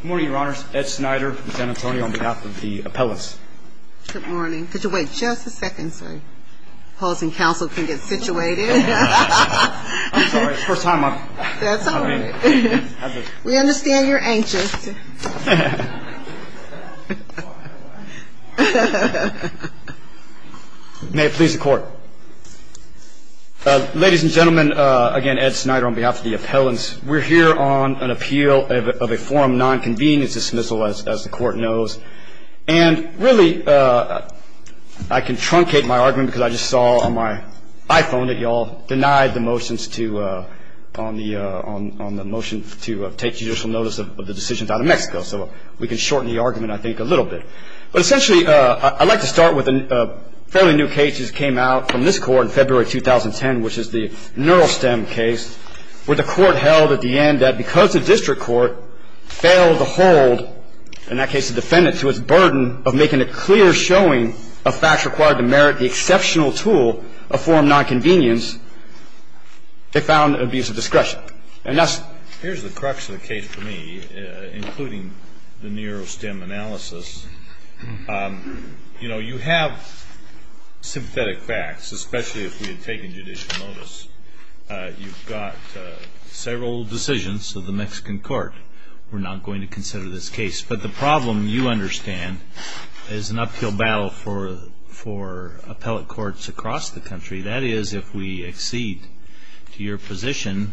Good morning, Your Honors. Ed Snyder, Lieutenant Antonio, on behalf of the appellants. Good morning. Could you wait just a second so the opposing counsel can get situated? I'm sorry. It's the first time I've been here. We understand you're anxious. May it please the Court. Ladies and gentlemen, again, Ed Snyder on behalf of the appellants. We're here on an appeal of a form of nonconvenience dismissal, as the Court knows. And really, I can truncate my argument because I just saw on my iPhone that you all denied the motions to on the motion to take judicial notice of the decisions out of Mexico. So we can shorten the argument, I think, a little bit. But essentially, I'd like to start with a fairly new case that came out from this Court in February 2010, which is the NeuroSTEM case, where the Court held at the end that because the district court failed to hold, in that case, the defendant to its burden of making a clear showing of facts required to merit the exceptional tool of form of nonconvenience, they found an abuse of discretion. And thus, here's the crux of the case for me, including the NeuroSTEM analysis. You know, you have sympathetic facts, especially if we had taken judicial notice. You've got several decisions of the Mexican court. We're not going to consider this case. But the problem, you understand, is an uphill battle for appellate courts across the country. That is, if we accede to your position,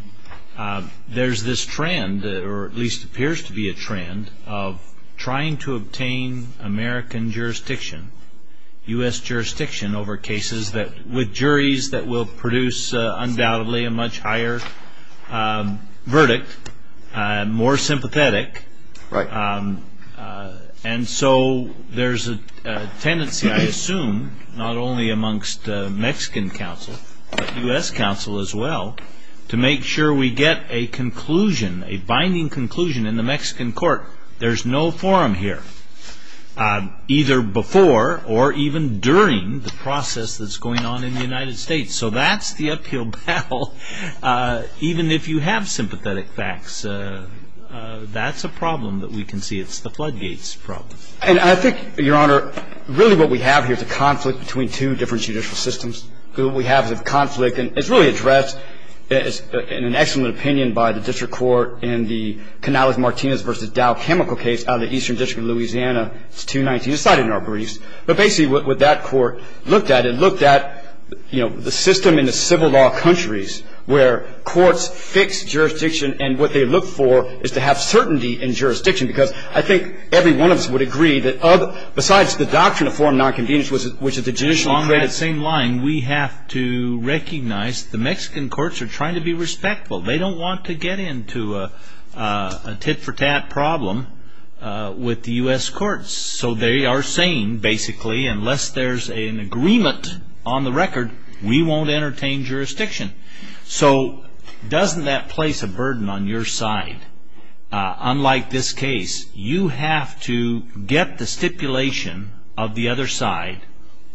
there's this trend, or at least appears to be a trend, of trying to obtain American jurisdiction, U.S. jurisdiction over cases with juries that will produce, undoubtedly, a much higher verdict, more sympathetic. Right. And so there's a tendency, I assume, not only amongst Mexican counsel, but U.S. counsel as well, to make sure we get a conclusion, a binding conclusion in the Mexican court. There's no forum here, either before or even during the process that's going on in the United States. So that's the uphill battle, even if you have sympathetic facts. That's a problem that we can see. It's the floodgates problem. And I think, Your Honor, really what we have here is a conflict between two different judicial systems. What we have is a conflict, and it's really addressed in an excellent opinion by the district court in the Canales-Martinez v. Dow Chemical case out of the Eastern District of Louisiana. It's 219. It's cited in our briefs. But basically what that court looked at, it looked at, you know, the system in the civil law countries where courts fix jurisdiction, and what they look for is to have certainty in jurisdiction. Because I think every one of us would agree that besides the doctrine of forum nonconvenience, along that same line, we have to recognize the Mexican courts are trying to be respectful. They don't want to get into a tit-for-tat problem with the U.S. courts. So they are saying, basically, unless there's an agreement on the record, we won't entertain jurisdiction. So doesn't that place a burden on your side? Unlike this case, you have to get the stipulation of the other side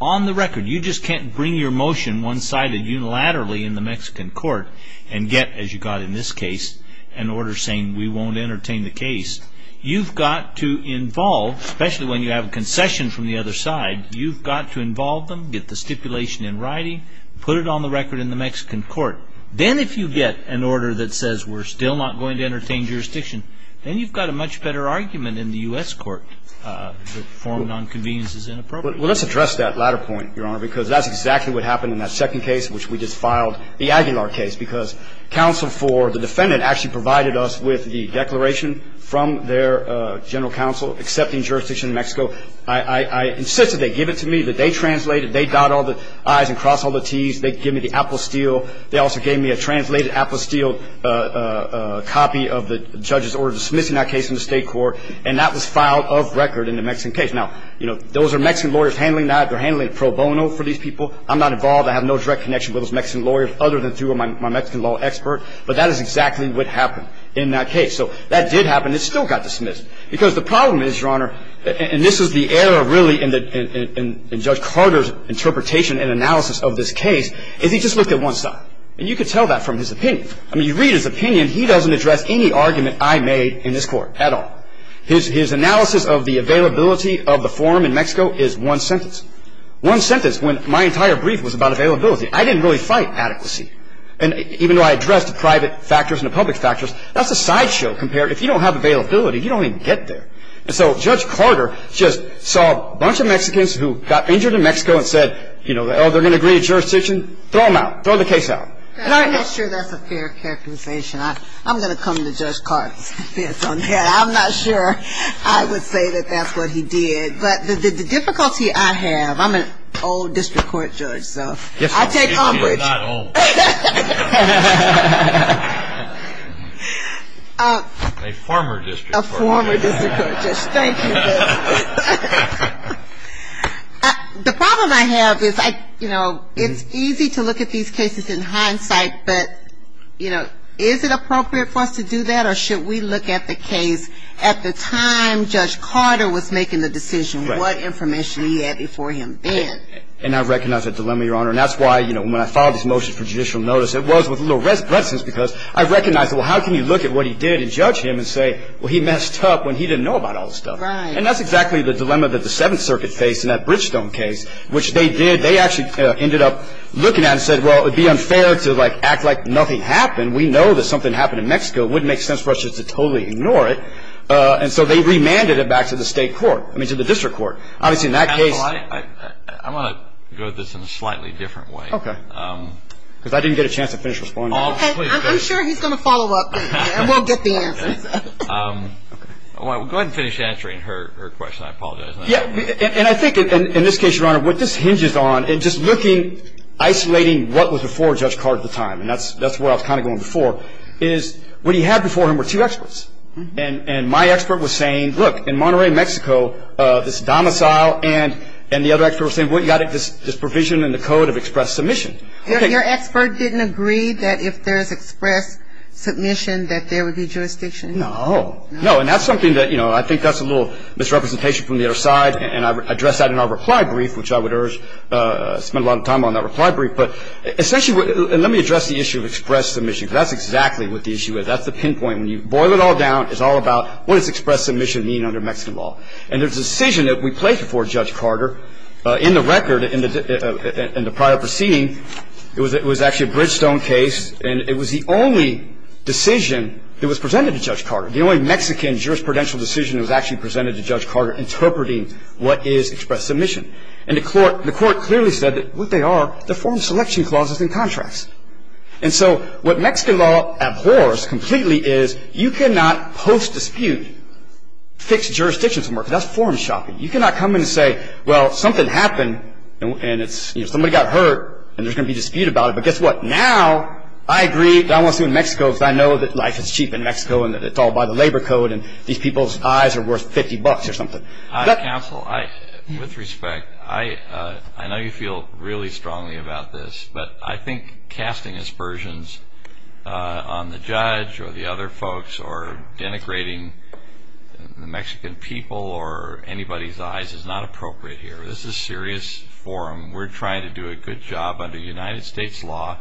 on the record. You just can't bring your motion one-sided unilaterally in the Mexican court and get, as you got in this case, an order saying we won't entertain the case. You've got to involve, especially when you have a concession from the other side, you've got to involve them, get the stipulation in writing, put it on the record in the Mexican court. Then if you get an order that says we're still not going to entertain jurisdiction, then you've got a much better argument in the U.S. court that forum nonconvenience is inappropriate. Well, let's address that latter point, Your Honor, because that's exactly what happened in that second case, which we just filed, the Aguilar case. Because counsel for the defendant actually provided us with the declaration from their general counsel accepting jurisdiction in Mexico. I insisted they give it to me, that they translate it, they dot all the I's and cross all the T's, they give me the apple steel. They also gave me a translated apple steel copy of the judge's order dismissing that case in the state court, and that was filed off record in the Mexican case. Now, you know, those are Mexican lawyers handling that. They're handling it pro bono for these people. I'm not involved. I have no direct connection with those Mexican lawyers other than through my Mexican law expert. But that is exactly what happened in that case. So that did happen. It still got dismissed. Because the problem is, Your Honor, and this is the error really in Judge Carter's interpretation and analysis of this case, is he just looked at one side. And you could tell that from his opinion. I mean, you read his opinion, he doesn't address any argument I made in this court at all. His analysis of the availability of the forum in Mexico is one sentence. One sentence when my entire brief was about availability. I didn't really fight adequacy. And even though I addressed the private factors and the public factors, that's a sideshow compared. If you don't have availability, you don't even get there. And so Judge Carter just saw a bunch of Mexicans who got injured in Mexico and said, you know, oh, they're going to agree to jurisdiction. Throw them out. Throw the case out. I'm not sure that's a fair characterization. I'm going to come to Judge Carter's defense on that. I'm not sure I would say that that's what he did. But the difficulty I have, I'm an old district court judge, so I take umbrage. A former district court judge. Thank you. The problem I have is, you know, it's easy to look at these cases in hindsight, but, you know, is it appropriate for us to do that or should we look at the case at the time Judge Carter was making the decision, what information he had before him then? And I recognize that dilemma, Your Honor. And that's why, you know, when I filed this motion for judicial notice, it was with a little reticence because I recognized, well, how can you look at what he did and judge him and say, well, he messed up when he didn't know about all this stuff. And that's exactly the dilemma that the Seventh Circuit faced in that Bridgestone case, which they did. They actually ended up looking at it and said, well, it would be unfair to, like, act like nothing happened. We know that something happened in Mexico. It wouldn't make sense for us just to totally ignore it. And so they remanded it back to the state court, I mean to the district court. Obviously in that case. I want to go at this in a slightly different way. Okay. Because I didn't get a chance to finish responding. I'm sure he's going to follow up and we'll get the answer. Go ahead and finish answering her question. I apologize. And I think, in this case, Your Honor, what this hinges on, and just looking, isolating what was before Judge Carr at the time, and that's where I was kind of going before, is what he had before him were two experts. And my expert was saying, look, in Monterey, Mexico, this domicile, and the other expert was saying, well, you've got this provision in the code of express submission. Your expert didn't agree that if there is express submission that there would be jurisdiction? No. No. And that's something that, you know, I think that's a little misrepresentation from the other side. And I addressed that in our reply brief, which I would urge, spend a lot of time on that reply brief. But essentially, let me address the issue of express submission, because that's exactly what the issue is. That's the pinpoint. When you boil it all down, it's all about what does express submission mean under Mexican law. And the decision that we placed before Judge Carter in the record, in the prior proceeding, it was actually a Bridgestone case, and it was the only decision that was presented to Judge Carter, the only Mexican jurisprudential decision that was actually presented to Judge Carter interpreting what is express submission. And the Court clearly said that what they are, they're form selection clauses and contracts. And so what Mexican law abhors completely is you cannot post dispute fixed jurisdictions because that's form shopping. You cannot come in and say, well, something happened, and it's, you know, somebody got hurt, and there's going to be dispute about it. But guess what? Now I agree that I want to sue in Mexico because I know that life is cheap in Mexico and that it's all by the labor code, and these people's eyes are worth 50 bucks or something. Counsel, with respect, I know you feel really strongly about this, but I think casting aspersions on the judge or the other folks or denigrating the Mexican people or anybody's eyes is not appropriate here. This is serious forum. We're trying to do a good job under United States law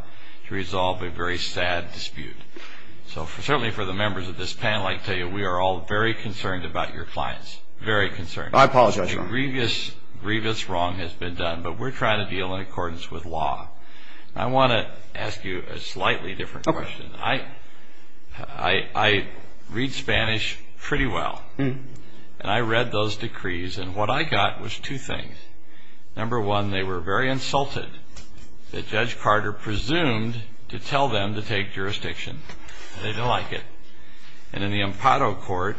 to resolve a very sad dispute. So certainly for the members of this panel, I can tell you we are all very concerned about your clients, very concerned. I apologize, Your Honor. Grievous wrong has been done, but we're trying to deal in accordance with law. I want to ask you a slightly different question. I read Spanish pretty well, and I read those decrees, and what I got was two things. Number one, they were very insulted that Judge Carter presumed to tell them to take jurisdiction. They didn't like it. And in the impado court,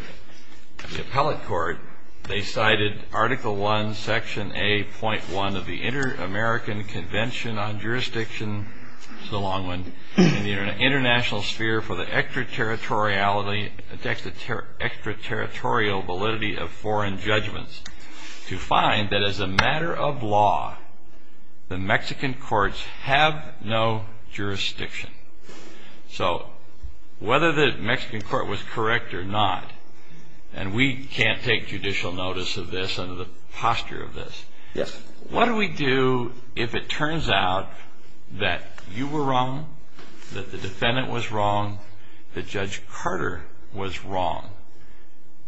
the appellate court, they cited Article I, Section A.1 of the Inter-American Convention on Jurisdiction, it's a long one, in the international sphere for the extraterritorial validity of foreign judgments to find that as a matter of law, the Mexican courts have no jurisdiction. So whether the Mexican court was correct or not, and we can't take judicial notice of this under the posture of this, what do we do if it turns out that you were wrong, that the defendant was wrong, that Judge Carter was wrong,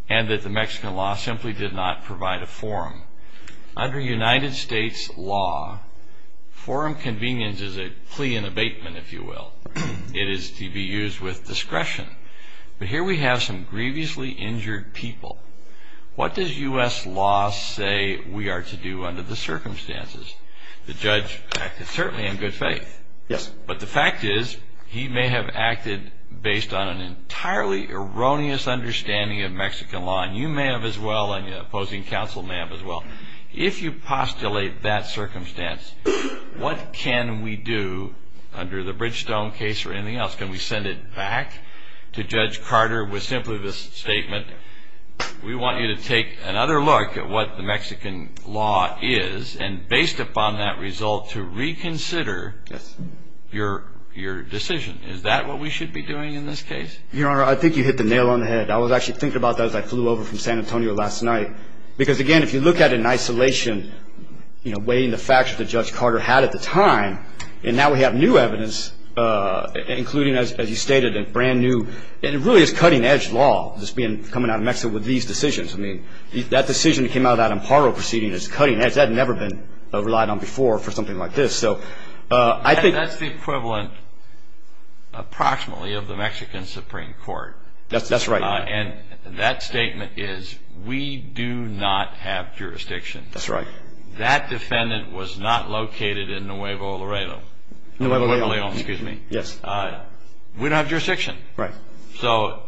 and that the Mexican law simply did not provide a forum? Under United States law, forum convenience is a plea in abatement, if you will. It is to be used with discretion. But here we have some grievously injured people. What does U.S. law say we are to do under the circumstances? The judge acted certainly in good faith, but the fact is he may have acted based on an entirely erroneous understanding of Mexican law, and you may have as well, and the opposing counsel may have as well. If you postulate that circumstance, what can we do under the Bridgestone case or anything else? Can we send it back to Judge Carter with simply this statement, we want you to take another look at what the Mexican law is, and based upon that result, to reconsider your decision. Is that what we should be doing in this case? Your Honor, I think you hit the nail on the head. I was actually thinking about that as I flew over from San Antonio last night, because, again, if you look at it in isolation, weighing the facts that Judge Carter had at the time, and now we have new evidence, including, as you stated, a brand-new, and it really is cutting-edge law coming out of Mexico with these decisions. That decision that came out of that Amparo proceeding is cutting-edge. That had never been relied on before for something like this. That's the equivalent approximately of the Mexican Supreme Court. That's right. And that statement is, we do not have jurisdiction. That's right. That defendant was not located in Nuevo Laredo. Nuevo Laredo. Nuevo Laredo, excuse me. Yes. We don't have jurisdiction. Right. So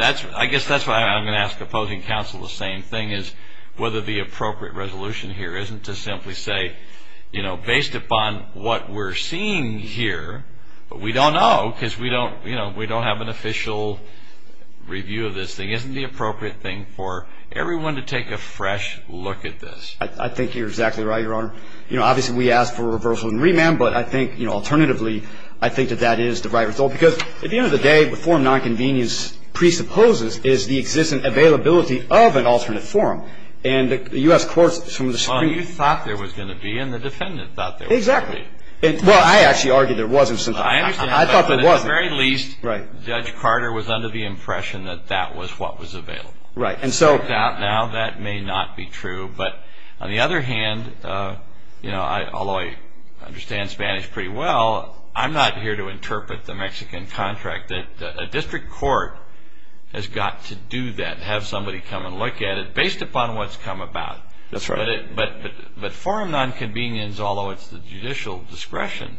I guess that's why I'm going to ask opposing counsel the same thing, is whether the appropriate resolution here isn't to simply say, you know, isn't the appropriate thing for everyone to take a fresh look at this. I think you're exactly right, Your Honor. You know, obviously we asked for a reversal and remand, but I think, you know, alternatively I think that that is the right result, because at the end of the day the form of nonconvenience presupposes is the existence and availability of an alternate form. And the U.S. courts from the Supreme Court. Well, you thought there was going to be, and the defendant thought there was going to be. Exactly. Well, I actually argued there wasn't. I understand. I thought there wasn't. At the very least, Judge Carter was under the impression that that was what was available. Right. And so. It's worked out now that may not be true. But on the other hand, you know, although I understand Spanish pretty well, I'm not here to interpret the Mexican contract. A district court has got to do that, have somebody come and look at it based upon what's come about. That's right. But forum nonconvenience, although it's the judicial discretion,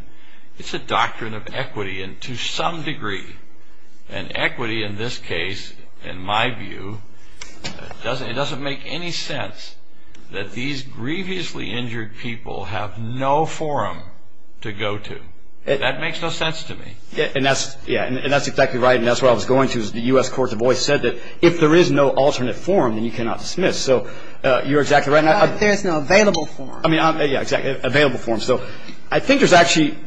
it's a doctrine of equity. And to some degree, an equity in this case, in my view, it doesn't make any sense that these grievously injured people have no forum to go to. That makes no sense to me. And that's exactly right. And that's where I was going to. The U.S. courts have always said that if there is no alternate form, then you cannot dismiss. So you're exactly right. There is no available form. Yeah, exactly. Available form. So I think there's actually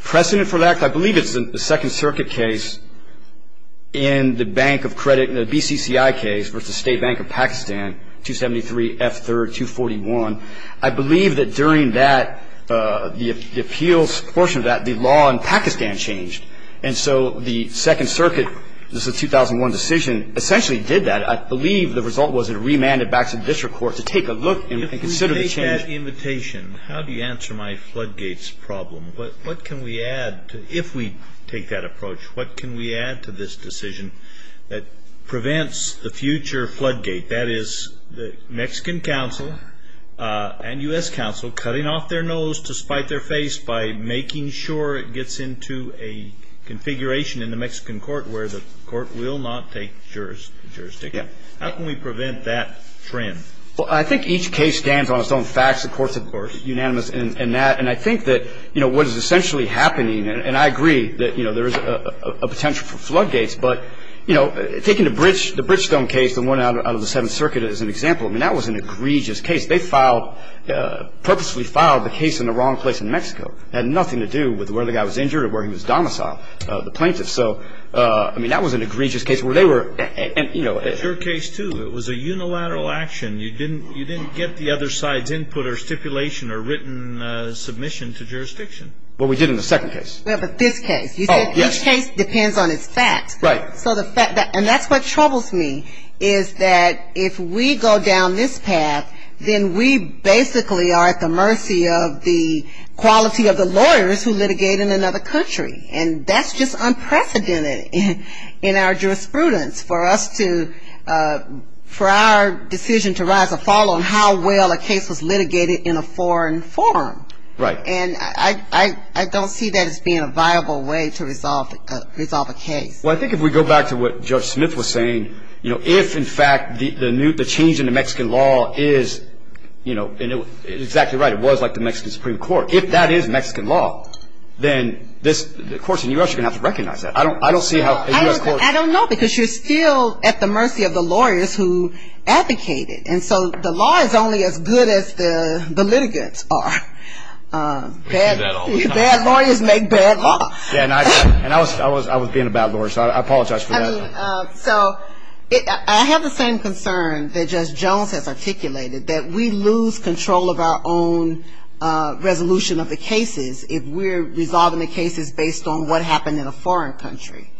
precedent for that. In fact, I believe it's the Second Circuit case in the bank of credit, the BCCI case versus State Bank of Pakistan, 273 F. 3rd, 241. I believe that during that, the appeals portion of that, the law in Pakistan changed. And so the Second Circuit, this is a 2001 decision, essentially did that. I believe the result was it remanded back to the district court to take a look and consider the change. With that invitation, how do you answer my floodgates problem? What can we add, if we take that approach, what can we add to this decision that prevents the future floodgate, that is the Mexican counsel and U.S. counsel cutting off their nose to spite their face by making sure it gets into a configuration in the Mexican court where the court will not take jurisdiction. How can we prevent that trend? Well, I think each case stands on its own facts. The courts are unanimous in that. And I think that, you know, what is essentially happening, and I agree that, you know, there is a potential for floodgates. But, you know, taking the Bridgestone case, the one out of the Seventh Circuit as an example, I mean, that was an egregious case. They filed, purposely filed the case in the wrong place in Mexico. It had nothing to do with where the guy was injured or where he was domiciled, the plaintiff. So, I mean, that was an egregious case where they were, you know. But your case, too, it was a unilateral action. You didn't get the other side's input or stipulation or written submission to jurisdiction. What we did in the second case. Well, but this case. Oh, yes. Each case depends on its facts. Right. So the fact that, and that's what troubles me, is that if we go down this path, then we basically are at the mercy of the quality of the lawyers who litigate in another country. And that's just unprecedented in our jurisprudence for us to, for our decision to rise or fall on how well a case was litigated in a foreign forum. Right. And I don't see that as being a viable way to resolve a case. Well, I think if we go back to what Judge Smith was saying, you know, if, in fact, the change in the Mexican law is, you know, exactly right, it was like the Mexican Supreme Court. If that is Mexican law, then the courts in the U.S. are going to have to recognize that. I don't see how a U.S. court. I don't know because you're still at the mercy of the lawyers who advocate it. And so the law is only as good as the litigants are. Bad lawyers make bad law. And I was being a bad lawyer, so I apologize for that. So I have the same concern that Judge Jones has articulated, that we lose control of our own resolution of the cases if we're resolving the cases based on what happened in a foreign country.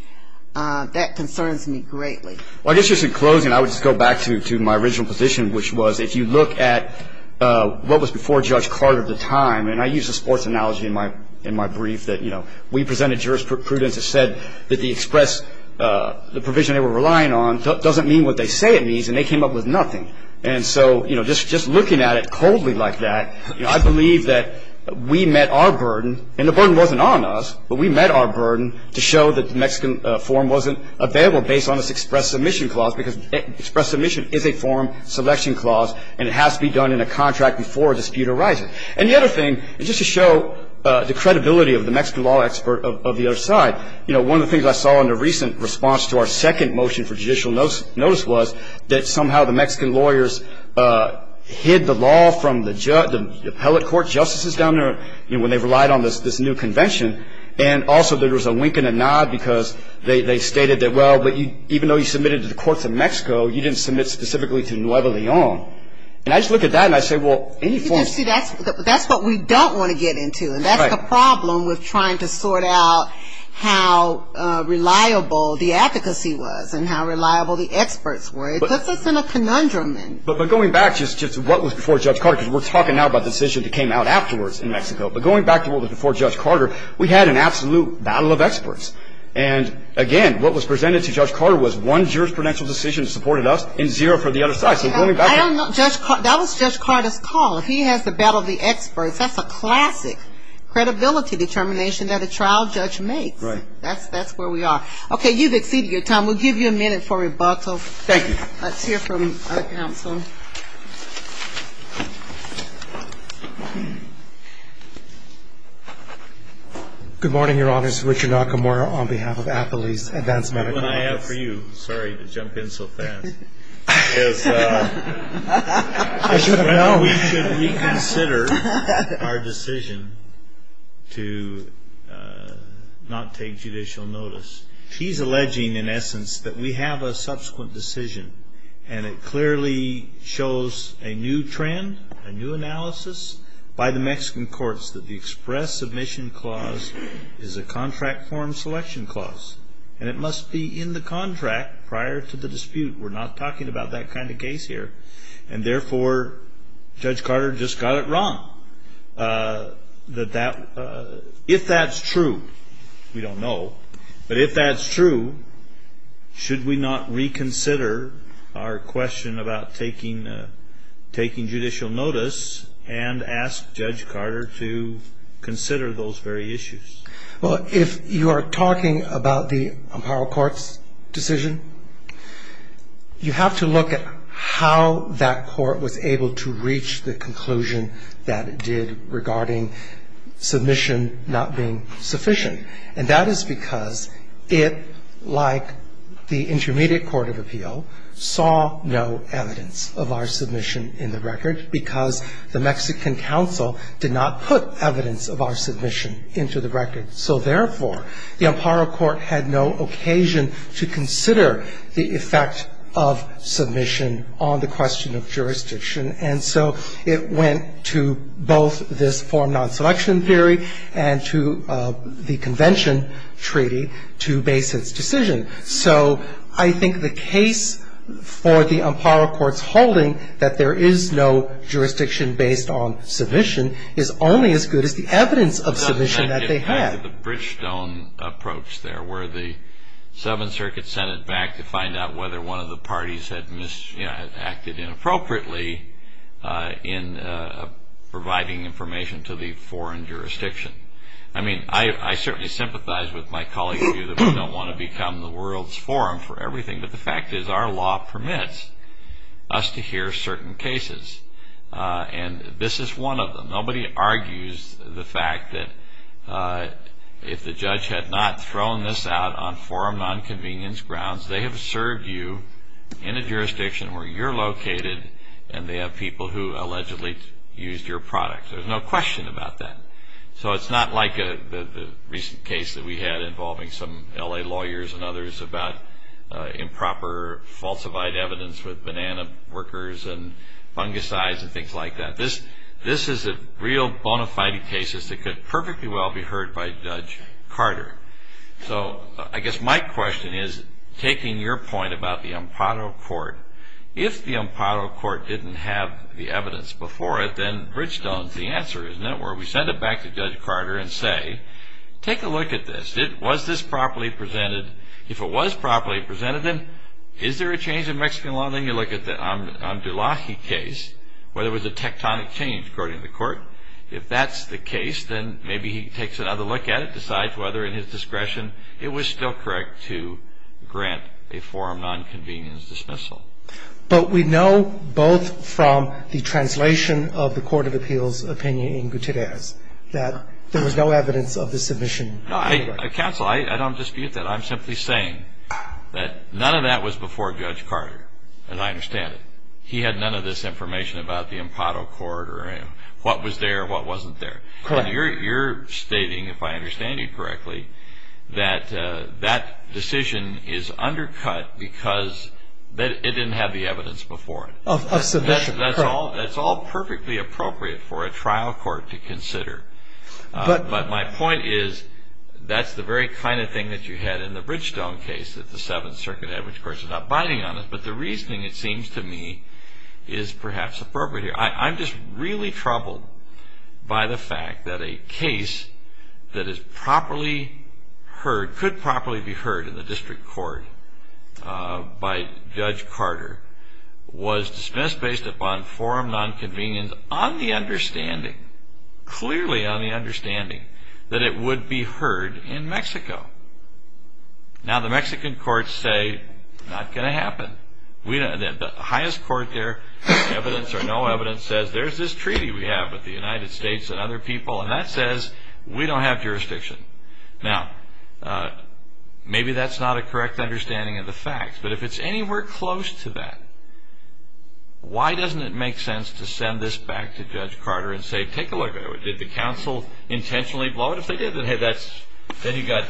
That concerns me greatly. Well, I guess just in closing, I would just go back to my original position, which was if you look at what was before Judge Carter at the time, and I used a sports analogy in my brief that, you know, we presented jurisprudence that said that the express, the provision they were relying on, doesn't mean what they say it means, and they came up with nothing. And so, you know, just looking at it coldly like that, you know, I believe that we met our burden, and the burden wasn't on us, but we met our burden to show that the Mexican form wasn't available based on this express submission clause, because express submission is a form selection clause, and it has to be done in a contract before a dispute arises. And the other thing, just to show the credibility of the Mexican law expert of the other side, you know, one of the things I saw in the recent response to our second motion for judicial notice was that somehow the Mexican lawyers hid the law from the appellate court justices down there, you know, when they relied on this new convention, and also there was a wink and a nod because they stated that, well, even though you submitted to the courts of Mexico, you didn't submit specifically to Nuevo Leon. And I just look at that, and I say, well, any form of... See, that's what we don't want to get into, and that's the problem with trying to sort out how reliable the advocacy was and how reliable the experts were. It puts us in a conundrum. But going back just to what was before Judge Carter, because we're talking now about the decision that came out afterwards in Mexico, but going back to what was before Judge Carter, we had an absolute battle of experts. And, again, what was presented to Judge Carter was one jurisprudential decision that supported us and zero for the other side. So going back to... I don't know. That was Judge Carter's call. If he has the battle of the experts, that's a classic credibility determination that a trial judge makes. Right. That's where we are. Okay. You've exceeded your time. We'll give you a minute for rebuttal. Thank you. Let's hear from our counsel. Good morning, Your Honors. Richard Nakamura on behalf of Appley's Advanced Medical Notice. Sorry to jump in so fast. We should reconsider our decision to not take judicial notice. He's alleging, in essence, that we have a subsequent decision, and it clearly shows a new trend, a new analysis by the Mexican courts, that the express submission clause is a contract form selection clause. And it must be in the contract prior to the dispute. We're not talking about that kind of case here. And, therefore, Judge Carter just got it wrong. If that's true, we don't know. But if that's true, should we not reconsider our question about taking judicial notice and ask Judge Carter to consider those very issues? Well, if you are talking about the apparel court's decision, you have to look at how that court was able to reach the conclusion that it did regarding submission not being sufficient. And that is because it, like the Intermediate Court of Appeal, saw no evidence of our submission in the record because the Mexican counsel did not put evidence of our submission into the record. So, therefore, the apparel court had no occasion to consider the effect of submission on the question of jurisdiction. And so it went to both this form non-selection theory and to the convention treaty to base its decision. So I think the case for the apparel court's holding that there is no jurisdiction based on submission is only as good as the evidence of submission that they had. The Bridgestone approach there where the Seventh Circuit sent it back to find out whether one of the parties had acted inappropriately in providing information to the foreign jurisdiction. I mean, I certainly sympathize with my colleagues here that we don't want to become the world's forum for everything, but the fact is our law permits us to hear certain cases. And this is one of them. Nobody argues the fact that if the judge had not thrown this out on forum nonconvenience grounds, they have served you in a jurisdiction where you're located and they have people who allegedly used your product. There's no question about that. So it's not like the recent case that we had involving some L.A. lawyers and others about improper falsified evidence with banana workers and fungicides and things like that. This is a real bona fide case that could perfectly well be heard by Judge Carter. So I guess my question is, taking your point about the apparel court, if the apparel court didn't have the evidence before it, then Bridgestone's the answer, isn't it, where we send it back to Judge Carter and say, take a look at this. Was this properly presented? If it was properly presented, then is there a change in Mexican law? Then you look at the Amdullahi case where there was a tectonic change, according to the court. If that's the case, then maybe he takes another look at it, decides whether in his discretion it was still correct to grant a forum nonconvenience dismissal. But we know both from the translation of the Court of Appeals opinion in Gutierrez that there was no evidence of the submission. No, counsel, I don't dispute that. I'm simply saying that none of that was before Judge Carter, as I understand it. He had none of this information about the imparo court or what was there and what wasn't there. Correct. You're stating, if I understand you correctly, that that decision is undercut because it didn't have the evidence before it. Of submission. That's all perfectly appropriate for a trial court to consider. But my point is that's the very kind of thing that you had in the Bridgestone case, that the Seventh Circuit Average Court is not binding on it. But the reasoning, it seems to me, is perhaps appropriate here. I'm just really troubled by the fact that a case that is properly heard, could properly be heard in the district court by Judge Carter, was dismissed based upon forum nonconvenience on the understanding, clearly on the understanding, that it would be heard in Mexico. Now, the Mexican courts say, not going to happen. The highest court there, evidence or no evidence, says there's this treaty we have with the United States and other people, and that says we don't have jurisdiction. Now, maybe that's not a correct understanding of the facts, but if it's anywhere close to that, why doesn't it make sense to send this back to Judge Carter and say, take a look at it. Did the counsel intentionally blow it? If they did, then you've got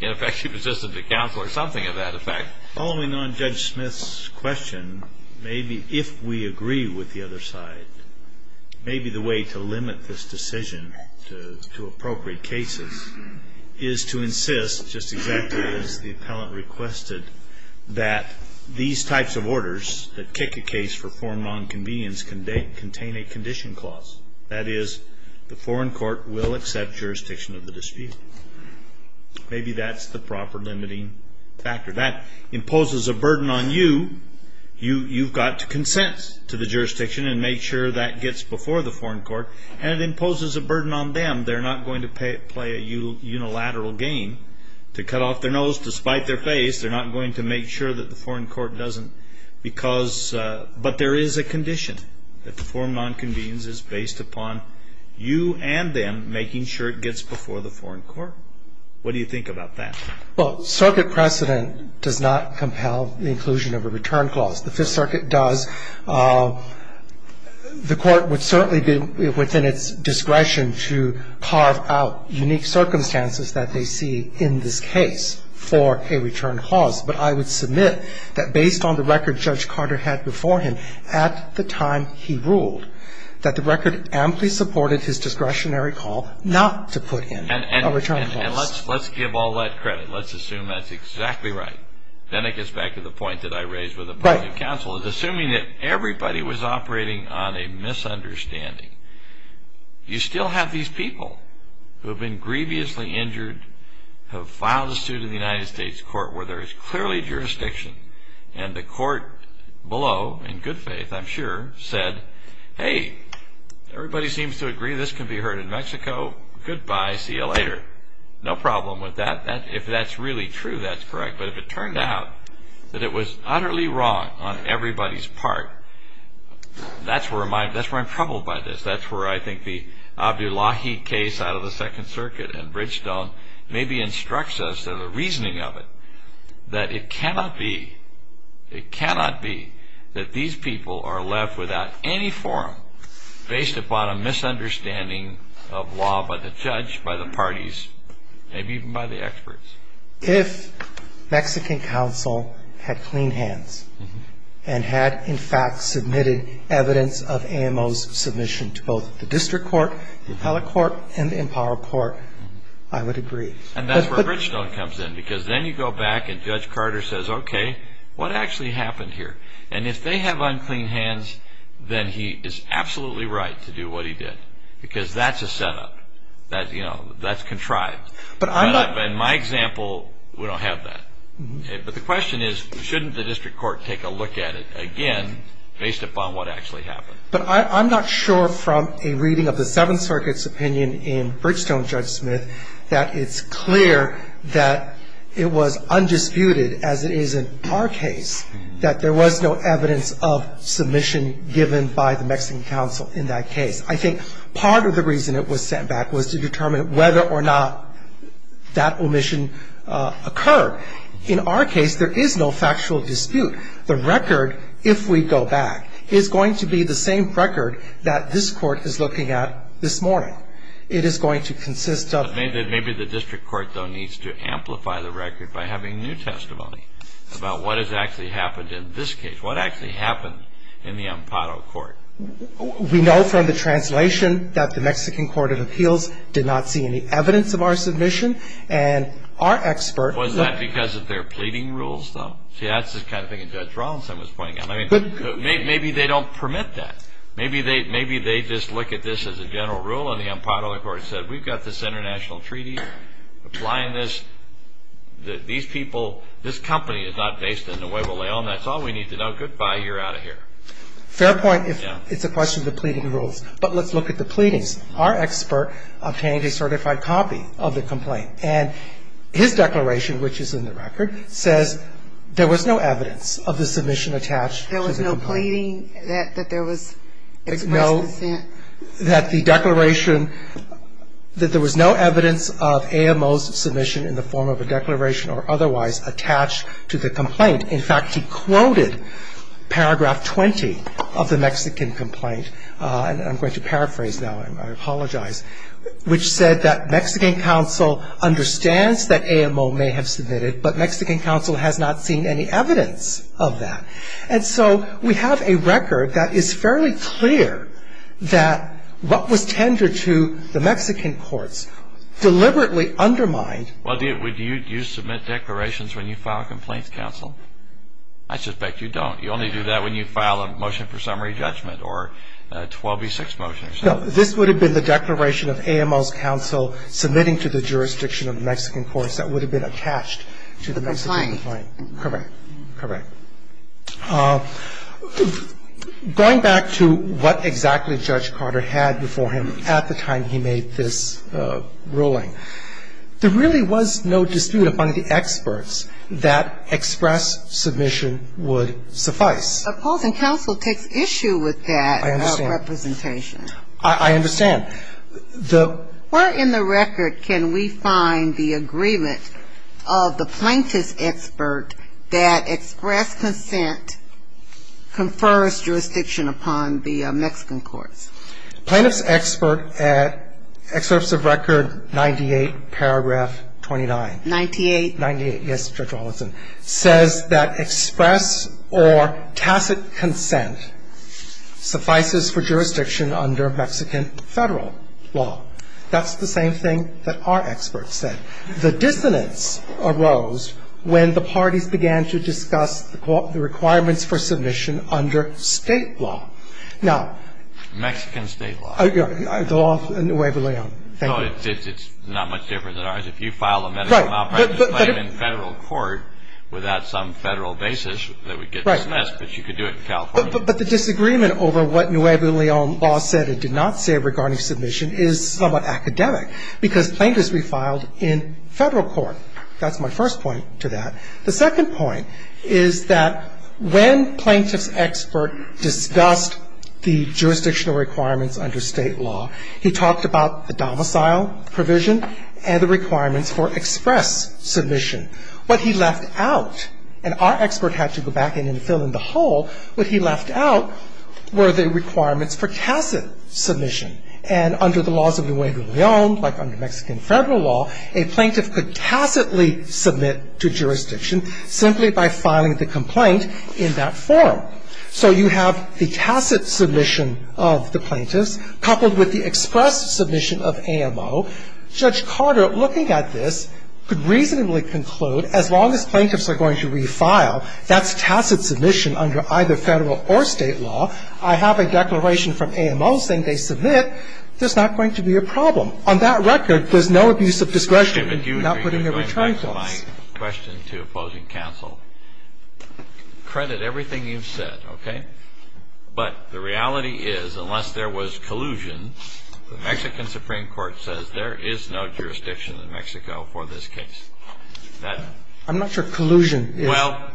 ineffective resistance to counsel or something of that effect. Following on Judge Smith's question, maybe if we agree with the other side, maybe the way to limit this decision to appropriate cases is to insist, just exactly as the appellant requested, that these types of orders that kick a case for forum nonconvenience contain a condition clause. That is, the foreign court will accept jurisdiction of the dispute. Maybe that's the proper limiting factor. That imposes a burden on you. You've got to consent to the jurisdiction and make sure that gets before the foreign court, and it imposes a burden on them. They're not going to play a unilateral game to cut off their nose to spite their face. They're not going to make sure that the foreign court doesn't because, but there is a condition that the forum nonconvenience is based upon you and them making sure it gets before the foreign court. What do you think about that? Well, circuit precedent does not compel the inclusion of a return clause. The Fifth Circuit does. The Court would certainly be within its discretion to carve out unique circumstances that they see in this case for a return clause, but I would submit that based on the record Judge Carter had before him, at the time he ruled, that the record amply supported his discretionary call not to put in a return clause. And let's give all that credit. Let's assume that's exactly right. Then it gets back to the point that I raised with the public counsel of assuming that everybody was operating on a misunderstanding. You still have these people who have been grievously injured, have filed a suit in the United States court where there is clearly jurisdiction, and the court below, in good faith I'm sure, said, Hey, everybody seems to agree this can be heard in Mexico. Goodbye, see you later. No problem with that. If that's really true, that's correct. But if it turned out that it was utterly wrong on everybody's part, that's where I'm troubled by this. That's where I think the Abdullahi case out of the Second Circuit and Bridgestone maybe instructs us, the reasoning of it, that it cannot be, it cannot be that these people are left without any forum based upon a misunderstanding of law by the judge, by the parties, maybe even by the experts. If Mexican counsel had clean hands and had in fact submitted evidence of AMO's submission to both the district court, the appellate court, and the empowered court, I would agree. And that's where Bridgestone comes in because then you go back and Judge Carter says, Okay, what actually happened here? And if they have unclean hands, then he is absolutely right to do what he did because that's a setup. That's contrived. But in my example, we don't have that. But the question is, shouldn't the district court take a look at it again based upon what actually happened? But I'm not sure from a reading of the Seventh Circuit's opinion in Bridgestone, Judge Smith, that it's clear that it was undisputed, as it is in our case, that there was no evidence of submission given by the Mexican counsel in that case. I think part of the reason it was sent back was to determine whether or not that omission occurred. In our case, there is no factual dispute. The record, if we go back, is going to be the same record that this Court is looking at this morning. It is going to consist of Maybe the district court, though, needs to amplify the record by having new testimony about what has actually happened in this case. What actually happened in the Ampado Court? We know from the translation that the Mexican Court of Appeals did not see any evidence of our submission. And our expert Was that because of their pleading rules, though? See, that's the kind of thing that Judge Rollinson was pointing out. Maybe they don't permit that. Maybe they just look at this as a general rule, and the Ampado Court said, We've got this international treaty applying this. These people, this company is not based in Nuevo León. That's all we need to know. Goodbye. You're out of here. Fair point. It's a question of the pleading rules. But let's look at the pleadings. Our expert obtained a certified copy of the complaint. And his declaration, which is in the record, says there was no evidence of the submission attached to the complaint. Was he pleading that there was No. That the declaration, that there was no evidence of AMO's submission in the form of a declaration or otherwise attached to the complaint. In fact, he quoted paragraph 20 of the Mexican complaint, and I'm going to paraphrase now, I apologize, which said that Mexican counsel understands that AMO may have submitted, but Mexican counsel has not seen any evidence of that. And so we have a record that is fairly clear that what was tendered to the Mexican courts deliberately undermined. Well, do you submit declarations when you file a complaint to counsel? I suspect you don't. You only do that when you file a motion for summary judgment or a 12B6 motion. No. This would have been the declaration of AMO's counsel submitting to the jurisdiction of the Mexican courts that would have been attached to the Mexican complaint. The complaint. Correct. Correct. Going back to what exactly Judge Carter had before him at the time he made this ruling, there really was no dispute among the experts that express submission would suffice. Opposing counsel takes issue with that representation. I understand. I understand. Where in the record can we find the agreement of the plaintiff's expert that express consent confers jurisdiction upon the Mexican courts? Plaintiff's expert at Excerpts of Record 98, paragraph 29. 98? 98, yes, Judge Rollinson, says that express or tacit consent suffices for jurisdiction under Mexican federal law. That's the same thing that our experts said. The dissonance arose when the parties began to discuss the requirements for submission under State law. Now ---- Mexican State law. The law of Nuevo Leon. Thank you. It's not much different than ours. If you file a medical malpractice claim in Federal court without some Federal basis that would get dismissed, but you could do it in California. But the disagreement over what Nuevo Leon law said or did not say regarding submission is somewhat academic because plaintiffs refiled in Federal court. That's my first point to that. The second point is that when plaintiff's expert discussed the jurisdictional requirements under State law, he talked about the domicile provision and the requirements for express submission. What he left out, and our expert had to go back in and fill in the hole, what he left out were the requirements for tacit submission. And under the laws of Nuevo Leon, like under Mexican Federal law, a plaintiff could tacitly submit to jurisdiction simply by filing the complaint in that form. So you have the tacit submission of the plaintiffs coupled with the express submission of AMO. So Judge Carter, looking at this, could reasonably conclude as long as plaintiffs are going to refile, that's tacit submission under either Federal or State law. I have a declaration from AMO saying they submit. There's not going to be a problem. On that record, there's no abuse of discretion in not putting a return clause. Kennedy. My question to opposing counsel, credit everything you've said, okay? But the reality is, unless there was collusion, the Mexican Supreme Court says there is no jurisdiction in Mexico for this case. I'm not sure collusion is. Well,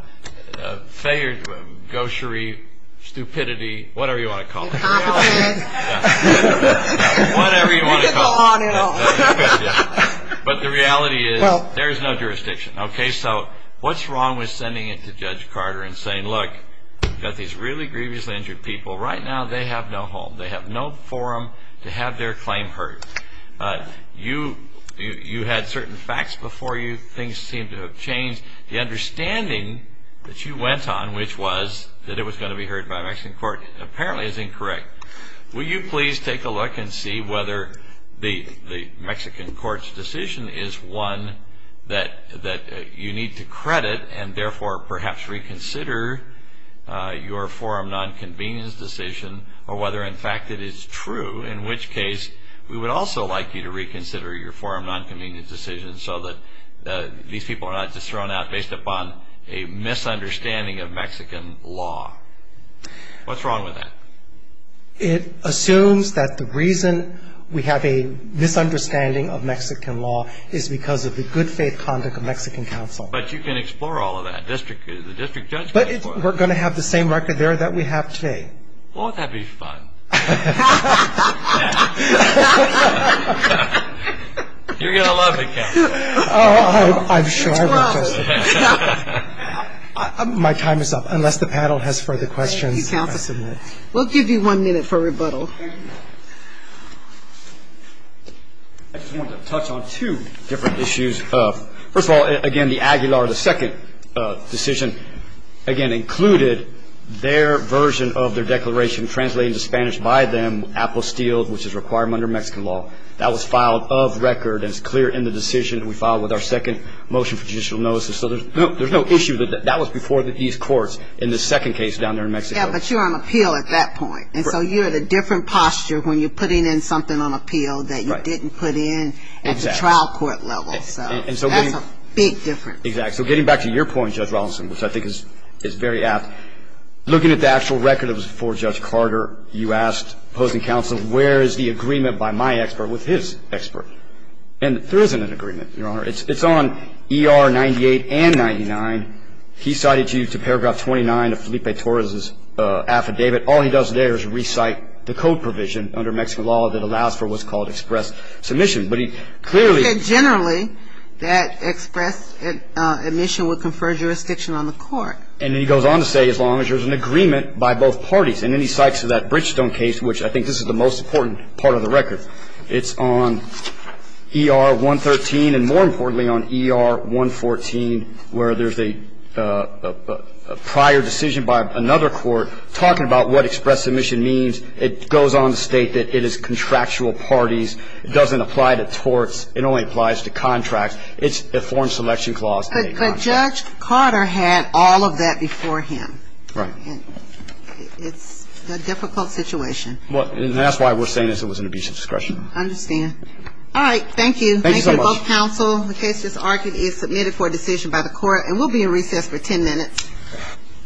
failure, gauchery, stupidity, whatever you want to call it. You can call on it all. But the reality is, there is no jurisdiction. Okay? So what's wrong with sending it to Judge Carter and saying, look, you've got these really grievously injured people. Right now, they have no home. They have no forum to have their claim heard. You had certain facts before you. Things seem to have changed. The understanding that you went on, which was that it was going to be heard by a Mexican court, apparently is incorrect. Will you please take a look and see whether the Mexican court's decision is one that you need to credit and, therefore, perhaps reconsider your forum nonconvenience decision, or whether, in fact, it is true, in which case, we would also like you to reconsider your forum nonconvenience decision so that these people are not just thrown out based upon a misunderstanding of Mexican law. What's wrong with that? It assumes that the reason we have a misunderstanding of Mexican law is because of the unfaithful conduct of Mexican counsel. But you can explore all of that. The district judge can explore it. But we're going to have the same record there that we have today. Well, that'd be fun. You're going to love it, Counsel. I'm sure I will, Justice. My time is up, unless the panel has further questions. Thank you, Counsel. We'll give you one minute for rebuttal. I just wanted to touch on two different issues. First of all, again, the Aguilar, the second decision, again, included their version of their declaration translated into Spanish by them, apostille, which is required under Mexican law. That was filed of record and is clear in the decision we filed with our second motion for judicial notice. So there's no issue. That was before these courts in the second case down there in Mexico. Yeah, but you're on appeal at that point. And so you had a different posture when you're putting in something on appeal that you didn't put in at the trial court level. So that's a big difference. Exactly. So getting back to your point, Judge Rawlinson, which I think is very apt, looking at the actual record that was before Judge Carter, you asked opposing counsel, where is the agreement by my expert with his expert? And there isn't an agreement, Your Honor. It's on ER 98 and 99. He cited you to paragraph 29 of Felipe Torres' affidavit. All he does there is recite the code provision under Mexican law that allows for what's called express submission. But he clearly ---- He said generally that express admission would confer jurisdiction on the court. And then he goes on to say as long as there's an agreement by both parties. And then he cites that Bridgestone case, which I think this is the most important part of the record. It's on ER 113 and more importantly on ER 114 where there's a prior decision by another court talking about what express submission means. It goes on to state that it is contractual parties. It doesn't apply to torts. It only applies to contracts. It's a foreign selection clause. But Judge Carter had all of that before him. Right. And it's a difficult situation. And that's why we're saying it was an abuse of discretion. I understand. All right. Thank you. Thank you so much. Thank you to both counsel. The case is argued and is submitted for a decision by the court. And we'll be in recess for 10 minutes.